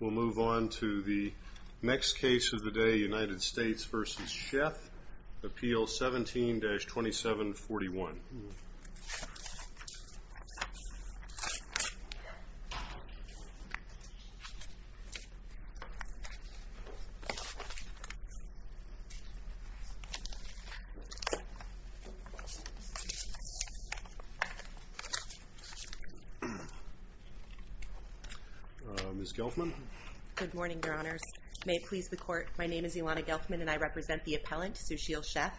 We'll move on to the next case of the day, United States v. Sheth, Appeal 17-2741. Ms. Gelfman? Good morning, Your Honors. May it please the Court, my name is Ilana Gelfman and I represent the appellant, Sushil Sheth.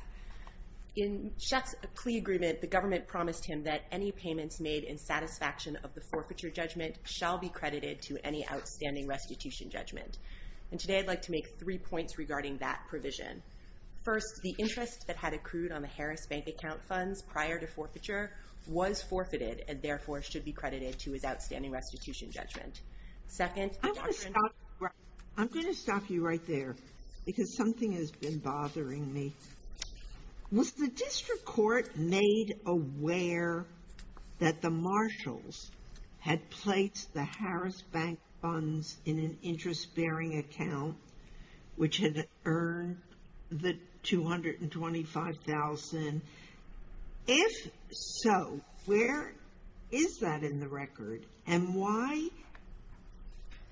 In Sheth's plea agreement, the government promised him that any payments made in satisfaction of the forfeiture judgment shall be credited to any outstanding restitution judgment. And today I'd like to make three points regarding that provision. First, the interest that had accrued on the Harris Bank account funds prior to forfeiture was forfeited and therefore should be credited to his outstanding restitution judgment. I'm going to stop you right there because something has been bothering me. Was the district court made aware that the marshals had placed the Harris Bank funds in an interest-bearing account which had earned the $225,000? If so, where is that in the record and why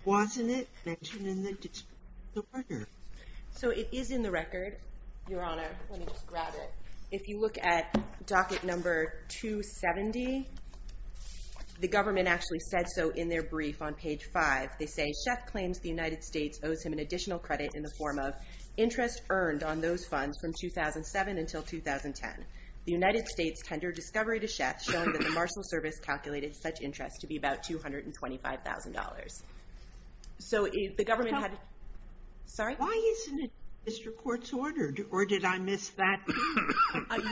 wasn't it mentioned in the record? So it is in the record, Your Honor. Let me just grab it. If you look at docket number 270, the government actually said so in their brief on page 5. They say Sheth claims the United States owes him an additional credit in the form of interest earned on those funds from 2007 until 2010. The United States tendered discovery to Sheth showing that the marshal service calculated such interest to be about $225,000. So the government had... Sorry? Why isn't it in the district court's order? Or did I miss that?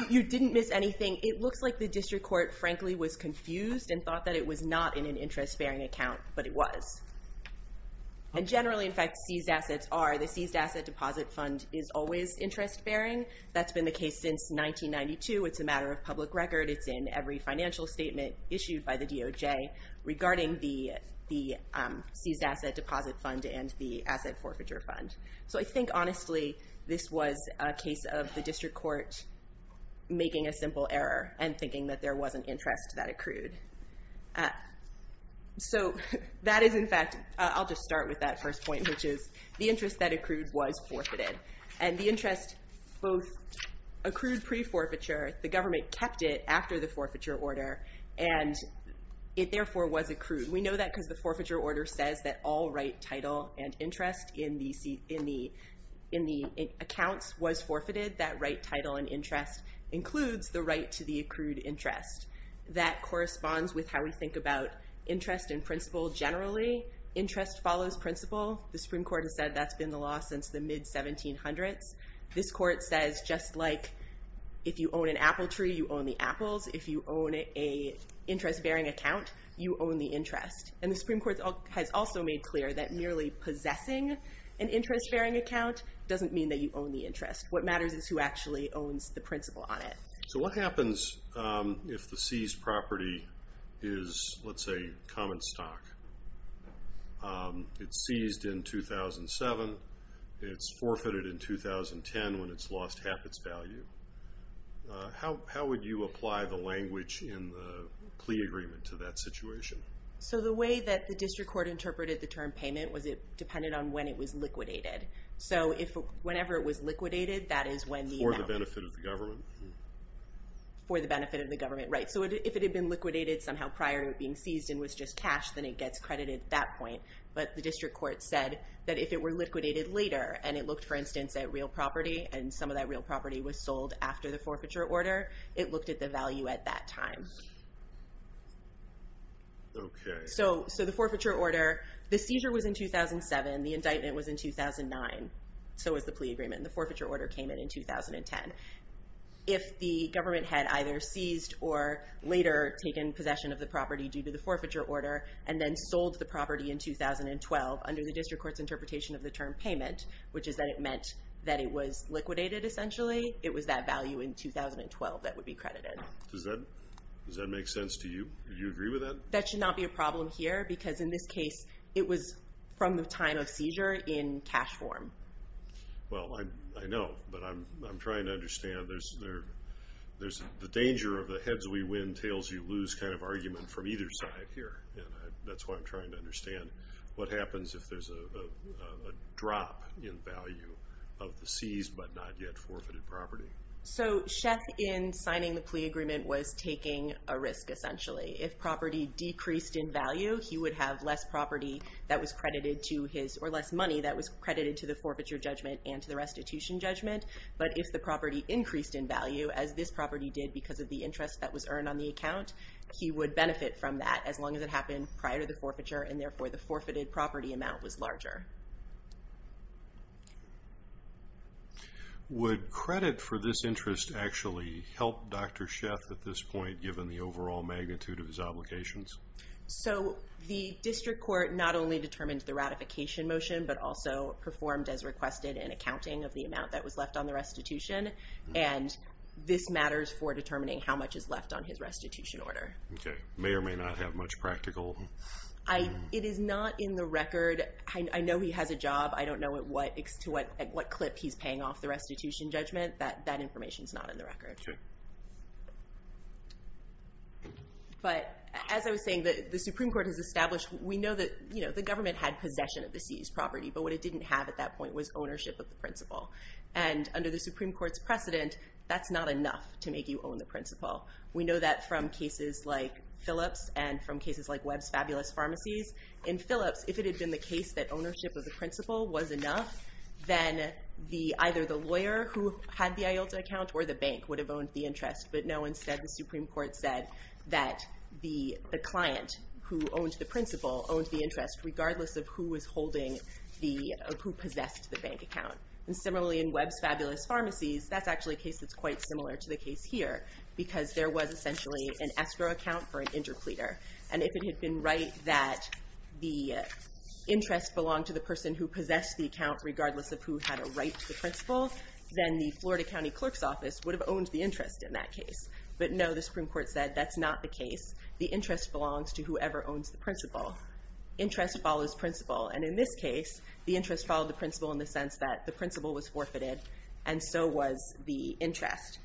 You didn't miss anything. It looks like the district court, frankly, was confused and thought that it was not in an interest-bearing account, but it was. And generally, in fact, seized assets are. The seized asset deposit fund is always interest-bearing. That's been the case since 1992. It's a matter of public record. It's in every financial statement issued by the DOJ regarding the seized asset deposit fund and the asset forfeiture fund. So I think, honestly, this was a case of the district court making a simple error and thinking that there was an interest that accrued. So that is, in fact... I'll just start with that first point, which is the interest that accrued was forfeited. And the interest both accrued pre-forfeiture. The government kept it after the forfeiture order, and it therefore was accrued. We know that because the forfeiture order says that all right, title, and interest in the accounts was forfeited. That right, title, and interest includes the right to the accrued interest. That corresponds with how we think about interest in principle generally. Interest follows principle. The Supreme Court has said that's been the law since the mid-1700s. This court says just like if you own an apple tree, you own the apples. If you own an interest-bearing account, you own the interest. And the Supreme Court has also made clear that merely possessing an interest-bearing account doesn't mean that you own the interest. What matters is who actually owns the principle on it. So what happens if the seized property is, let's say, common stock? It's seized in 2007. It's forfeited in 2010 when it's lost half its value. How would you apply the language in the plea agreement to that situation? So the way that the district court interpreted the term payment was it depended on when it was liquidated. So whenever it was liquidated, that is when the amount... For the benefit of the government. For the benefit of the government, right. So if it had been liquidated somehow prior to it being seized and was just cash, then it gets credited at that point. But the district court said that if it were liquidated later and it looked, for instance, at real property and some of that real property was sold after the forfeiture order, it looked at the value at that time. So the forfeiture order... The seizure was in 2007. The indictment was in 2009. So was the plea agreement. And the forfeiture order came in in 2010. If the government had either seized or later taken possession of the property due to the forfeiture order and then sold the property in 2012 under the district court's interpretation of the term payment, which is that it meant that it was liquidated essentially, it was that value in 2012 that would be credited. Does that make sense to you? Do you agree with that? That should not be a problem here because in this case it was from the time of seizure in cash form. Well, I know, but I'm trying to understand. There's the danger of the heads we win, tails you lose kind of argument from either side here. And that's why I'm trying to understand what happens if there's a drop in value of the seized but not yet forfeited property. So Sheth, in signing the plea agreement, was taking a risk essentially. If property decreased in value, he would have less property that was credited to his... to the forfeiture judgment and to the restitution judgment. But if the property increased in value, as this property did because of the interest that was earned on the account, he would benefit from that as long as it happened prior to the forfeiture and therefore the forfeited property amount was larger. Would credit for this interest actually help Dr. Sheth at this point, given the overall magnitude of his obligations? So the district court not only determined the ratification motion, but also performed as requested an accounting of the amount that was left on the restitution. And this matters for determining how much is left on his restitution order. Okay. May or may not have much practical... It is not in the record. I know he has a job. I don't know to what clip he's paying off the restitution judgment. That information is not in the record. Okay. But as I was saying, the Supreme Court has established... We know that the government had possession of the seized property, but what it didn't have at that point was ownership of the principal. And under the Supreme Court's precedent, that's not enough to make you own the principal. We know that from cases like Phillips and from cases like Webb's Fabulous Pharmacies. In Phillips, if it had been the case that ownership of the principal was enough, then either the lawyer who had the IULTA account or the bank would have owned the interest, but no, instead the Supreme Court said that the client who owned the principal owned the interest regardless of who possessed the bank account. And similarly in Webb's Fabulous Pharmacies, that's actually a case that's quite similar to the case here because there was essentially an escrow account for an interpleader. And if it had been right that the interest belonged to the person who possessed the account regardless of who had a right to the principal, then the Florida County Clerk's Office would have owned the interest in that case. But no, the Supreme Court said that's not the case. The interest belongs to whoever owns the principal. Interest follows principal, and in this case, the interest followed the principal in the sense that the principal was forfeited and so was the interest.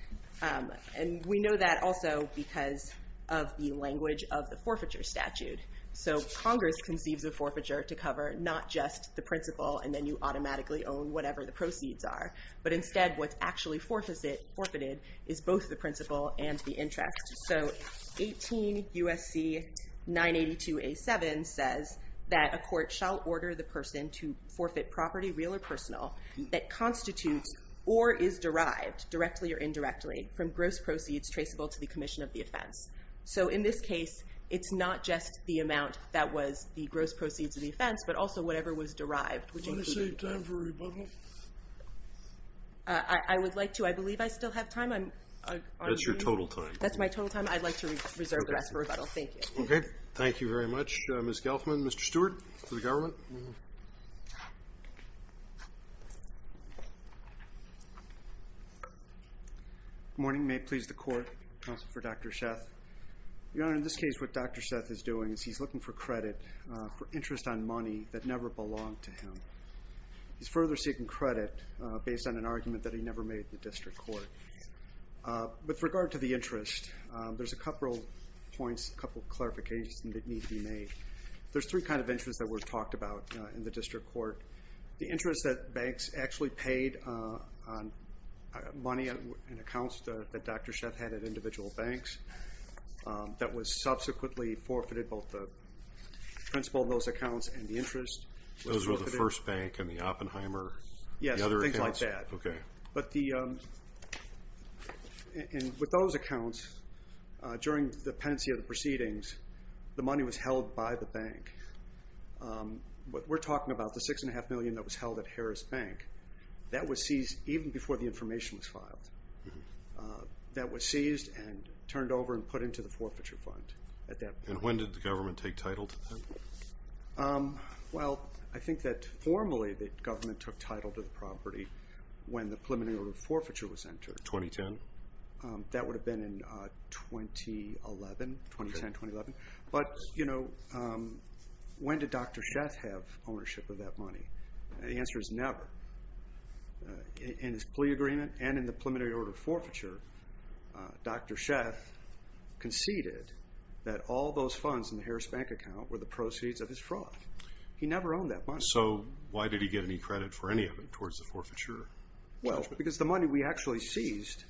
And we know that also because of the language of the forfeiture statute. So Congress conceives a forfeiture to cover not just the principal and then you automatically own whatever the proceeds are, but instead what's actually forfeited is both the principal and the interest. So 18 U.S.C. 982A.7 says that a court shall order the person to forfeit property, real or personal, that constitutes or is derived, directly or indirectly, from gross proceeds traceable to the commission of the offense. So in this case, it's not just the amount that was the gross proceeds of the offense, but also whatever was derived. Do you want to save time for rebuttal? I would like to. I believe I still have time. That's your total time. That's my total time. I'd like to reserve the rest for rebuttal. Thank you. Okay. Thank you very much, Ms. Gelfman. Mr. Stewart for the government. Good morning. May it please the Court. Counsel for Dr. Sheth. Your Honor, in this case what Dr. Sheth is doing is he's looking for credit for interest on money that never belonged to him. He's further seeking credit based on an argument that he never made at the district court. With regard to the interest, there's a couple of points, a couple of clarifications that need to be made. There's three kinds of interest that were talked about in the district court. The interest that banks actually paid on money and accounts that Dr. Sheth had at individual banks that was subsequently forfeited, both the principal of those accounts and the interest. Those were the First Bank and the Oppenheimer? Yes, things like that. Okay. With those accounts, during the pendency of the proceedings, the money was held by the bank. What we're talking about, the $6.5 million that was held at Harris Bank, that was seized even before the information was filed. That was seized and turned over and put into the forfeiture fund at that point. When did the government take title to that? Well, I think that formally the government took title to the property when the preliminary order of forfeiture was entered. 2010? That would have been in 2011, 2010-2011. But when did Dr. Sheth have ownership of that money? The answer is never. In his plea agreement and in the preliminary order of forfeiture, Dr. Sheth conceded that all those funds in the Harris Bank account were the proceeds of his fraud. He never owned that money. So why did he get any credit for any of it towards the forfeiture? Well, because the money we actually seized,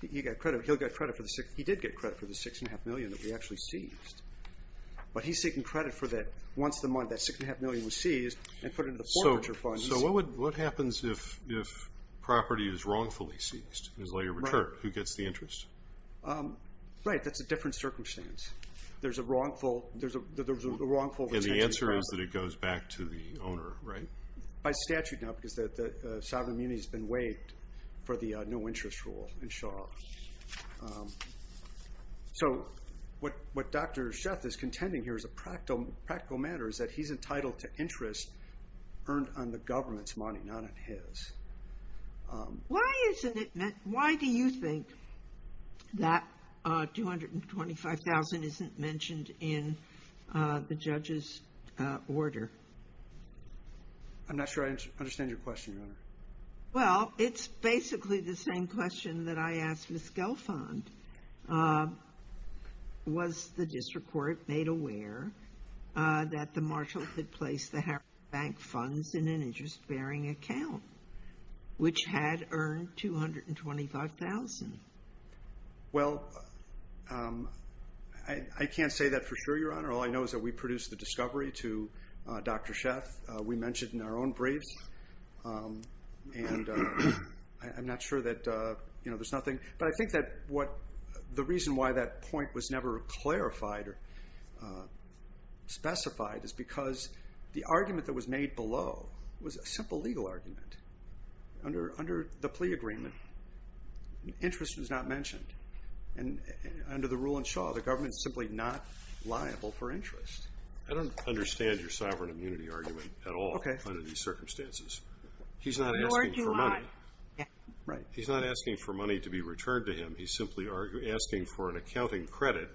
he did get credit for the $6.5 million that we actually seized. But he's seeking credit for that. Once the money, that $6.5 million was seized and put into the forfeiture fund. So what happens if property is wrongfully seized and is later returned? Who gets the interest? Right, that's a different circumstance. There's a wrongful retention. And the answer is that it goes back to the owner, right? By statute, no, because the sovereign immunity has been waived for the no interest rule in Shaw. So what Dr. Sheth is contending here as a practical matter is that he's entitled to interest earned on the government's money, not on his. Why do you think that $225,000 isn't mentioned in the judge's order? I'm not sure I understand your question, Your Honor. Well, it's basically the same question that I asked Ms. Gelfond. Was the district court made aware that the marshal had placed the Harris Bank funds in an interest-bearing account, which had earned $225,000? Well, I can't say that for sure, Your Honor. All I know is that we produced the discovery to Dr. Sheth. We mentioned it in our own briefs. And I'm not sure that there's nothing. But I think that the reason why that point was never clarified or specified is because the argument that was made below was a simple legal argument. Under the plea agreement, interest was not mentioned. And under the rule in Shaw, the government is simply not liable for interest. I don't understand your sovereign immunity argument at all under these circumstances. Nor do I. He's not asking for money to be returned to him. He's simply asking for an accounting credit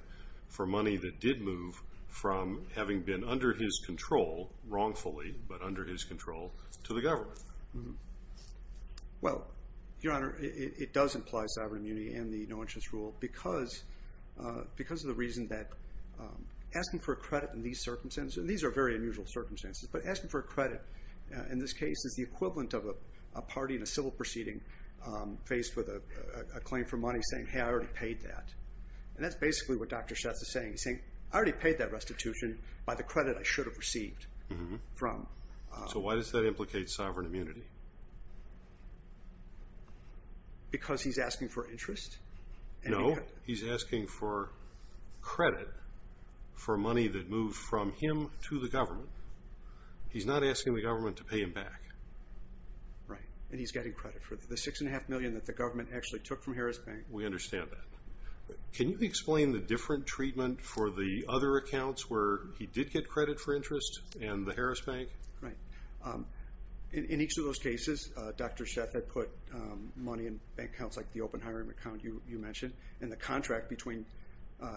for money that did move from having been under his control wrongfully, but under his control, to the government. Well, Your Honor, it does imply sovereign immunity and the no-interest rule because of the reason that asking for a credit in these circumstances and these are very unusual circumstances, but asking for a credit in this case is the equivalent of a party in a civil proceeding faced with a claim for money saying, hey, I already paid that. And that's basically what Dr. Sheth is saying. He's saying, I already paid that restitution by the credit I should have received. So why does that implicate sovereign immunity? Because he's asking for interest. No, he's asking for credit for money that moved from him to the government. He's not asking the government to pay him back. Right, and he's getting credit for the $6.5 million that the government actually took from Harris Bank. We understand that. Can you explain the different treatment for the other accounts where he did get credit for interest and the Harris Bank? Right. In each of those cases, Dr. Sheth had put money in bank accounts like the open hiring account you mentioned, and the contract between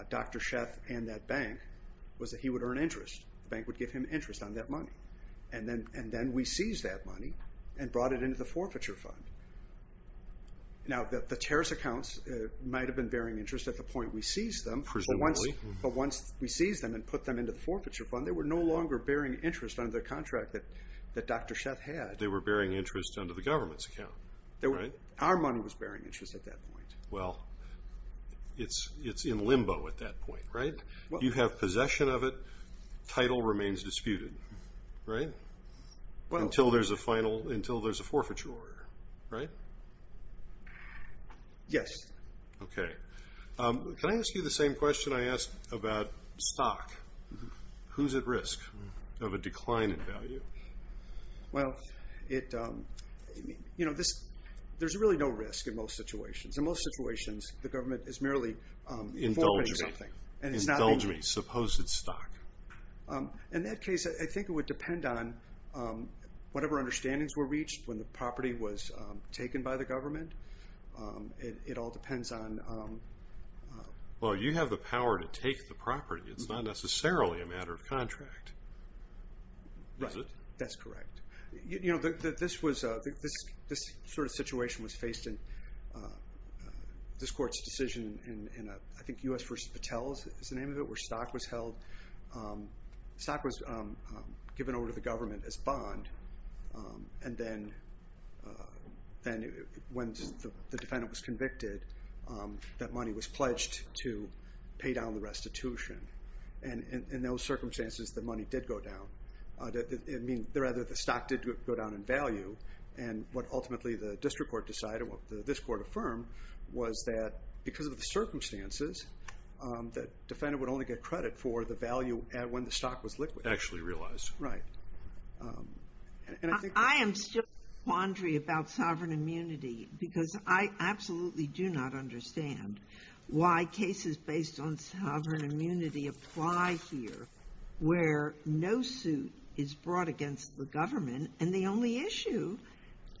Dr. Sheth and that bank was that he would earn interest. The bank would give him interest on that money. And then we seized that money and brought it into the forfeiture fund. Now, the terrorist accounts might have been bearing interest at the point we seized them. Presumably. But once we seized them and put them into the forfeiture fund, they were no longer bearing interest under the contract that Dr. Sheth had. They were bearing interest under the government's account, right? Our money was bearing interest at that point. Well, it's in limbo at that point, right? You have possession of it. Title remains disputed, right? Until there's a forfeiture order, right? Yes. Okay. Can I ask you the same question I asked about stock? Who's at risk of a decline in value? Well, you know, there's really no risk in most situations. In most situations, the government is merely forfeiting something. Indulge me. Indulge me. Suppose it's stock. In that case, I think it would depend on whatever understandings were reached when the property was taken by the government. It all depends on... Well, you have the power to take the property. It's not necessarily a matter of contract. Is it? That's correct. You know, this sort of situation was faced in this court's decision in, I think, U.S. v. Patel's is the name of it, where stock was held. Stock was given over to the government as bond, and then when the defendant was convicted, that money was pledged to pay down the restitution. And in those circumstances, the money did go down. I mean, rather, the stock did go down in value, and what ultimately the district court decided, what this court affirmed, was that because of the circumstances, the defendant would only get credit for the value when the stock was liquid. Actually realized. Right. I am still in a quandary about sovereign immunity because I absolutely do not understand why cases based on sovereign immunity apply here, where no suit is brought against the government, and the only issue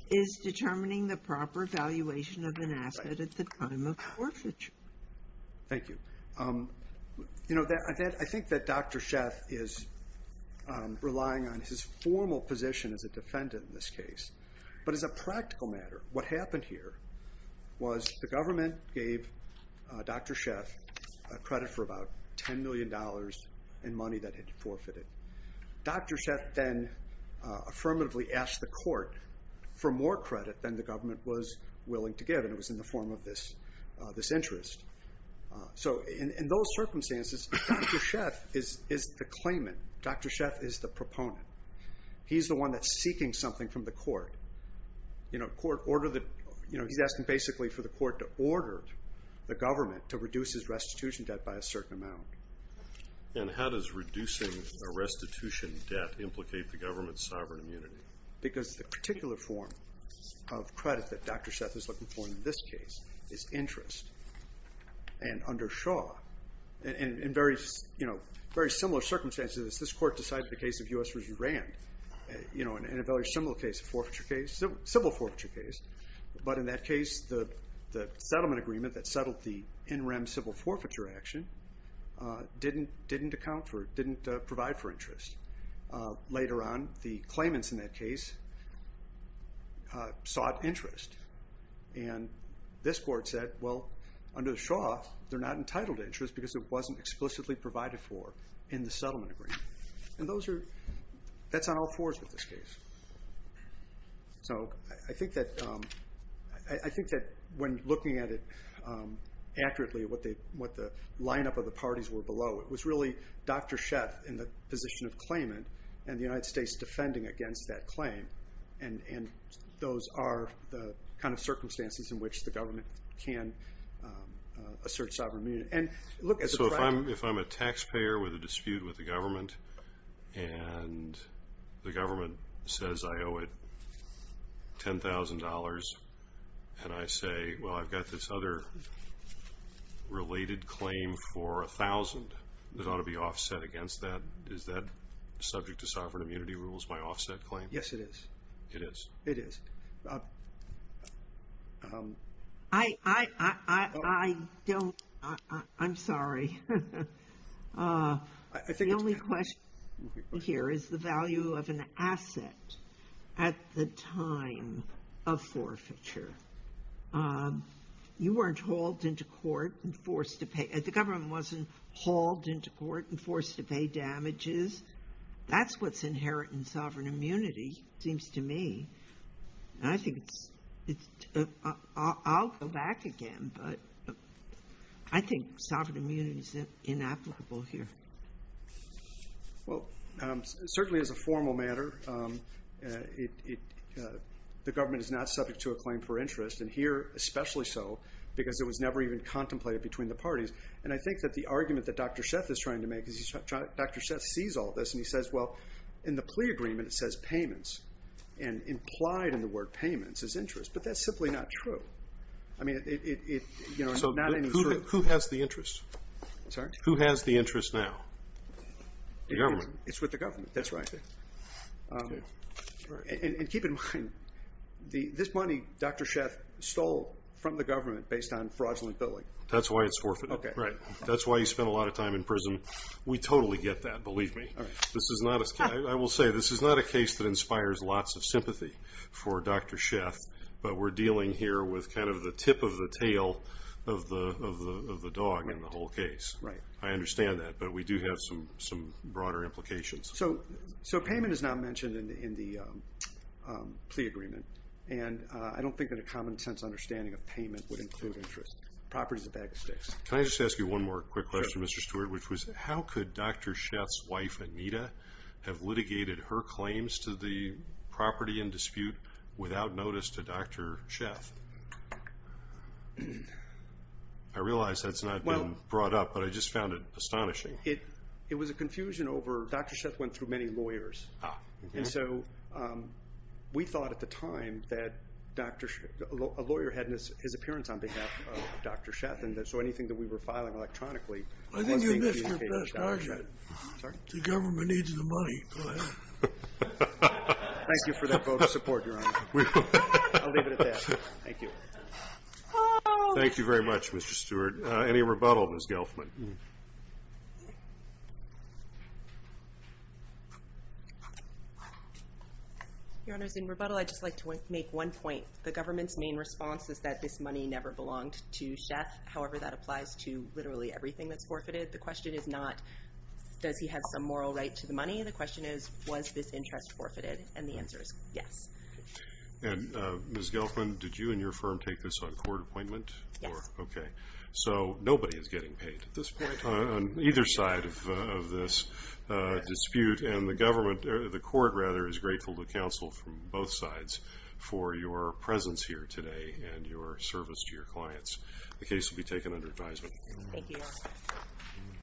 is determining the proper valuation of an asset at the time of forfeiture. Thank you. You know, I think that Dr. Sheff is relying on his formal position as a defendant in this case. But as a practical matter, what happened here was the government gave Dr. Sheff credit for about $10 million in money that had been forfeited. Dr. Sheff then affirmatively asked the court for more credit than the government was willing to give, and it was in the form of this interest. So in those circumstances, Dr. Sheff is the claimant. Dr. Sheff is the proponent. He's the one that's seeking something from the court. He's asking basically for the court to order the government to reduce his restitution debt by a certain amount. And how does reducing a restitution debt implicate the government's sovereign immunity? Because the particular form of credit that Dr. Sheff is looking for in this case is interest. And under Shaw, in very similar circumstances, this court decided the case of U.S. v. Iran, in a very similar case, a civil forfeiture case. But in that case, the settlement agreement that settled the in-rem civil forfeiture action didn't provide for interest. Later on, the claimants in that case sought interest. And this court said, well, under Shaw, they're not entitled to interest because it wasn't explicitly provided for in the settlement agreement. And that's on all fours with this case. So I think that when looking at it accurately, what the lineup of the parties were below, it was really Dr. Sheff in the position of claimant and the United States defending against that claim. And those are the kind of circumstances in which the government can assert sovereign immunity. So if I'm a taxpayer with a dispute with the government and the government says I owe it $10,000 and I say, well, I've got this other related claim for $1,000 that ought to be offset against that, is that subject to sovereign immunity rules, my offset claim? Yes, it is. It is? It is. I don't. I'm sorry. The only question here is the value of an asset at the time of forfeiture. You weren't hauled into court and forced to pay. The government wasn't hauled into court and forced to pay damages. That's what's inherent in sovereign immunity, it seems to me. I'll go back again, but I think sovereign immunity is inapplicable here. Well, certainly as a formal matter, the government is not subject to a claim for interest, and here especially so, because it was never even contemplated between the parties. And I think that the argument that Dr. Sheff is trying to make is Dr. Sheff sees all this and he says, well, in the plea agreement it says payments, and implied in the word payments is interest, but that's simply not true. So who has the interest? Sorry? Who has the interest now? The government. It's with the government, that's right. And keep in mind, this money Dr. Sheff stole from the government based on fraudulent billing. That's why it's forfeited. That's why he spent a lot of time in prison. We totally get that, believe me. I will say this is not a case that inspires lots of sympathy for Dr. Sheff, but we're dealing here with kind of the tip of the tail of the dog in the whole case. I understand that, but we do have some broader implications. So payment is not mentioned in the plea agreement, and I don't think that a common sense understanding of payment would include interest. Property is a bag of sticks. Can I just ask you one more quick question, Mr. Stewart, which was how could Dr. Sheff's wife, Anita, have litigated her claims to the property in dispute without notice to Dr. Sheff? I realize that's not been brought up, but I just found it astonishing. It was a confusion over Dr. Sheff went through many lawyers, and so we thought at the time that a lawyer had his appearance on behalf of Dr. Sheff, and so anything that we were filing electronically was communicated to Dr. Sheff. I think you missed your best argument. The government needs the money. Go ahead. Thank you for that vote of support, Your Honor. I'll leave it at that. Thank you. Thank you very much, Mr. Stewart. Any rebuttal, Ms. Gelfman? Your Honors, in rebuttal I'd just like to make one point. The government's main response is that this money never belonged to Sheff. However, that applies to literally everything that's forfeited. The question is not does he have some moral right to the money. The question is was this interest forfeited, and the answer is yes. And, Ms. Gelfman, did you and your firm take this on court appointment? Yes. Okay. So nobody is getting paid at this point on either side of this dispute, and the court is grateful to counsel from both sides for your presence here today and your service to your clients. The case will be taken under advisement. Thank you, Your Honor.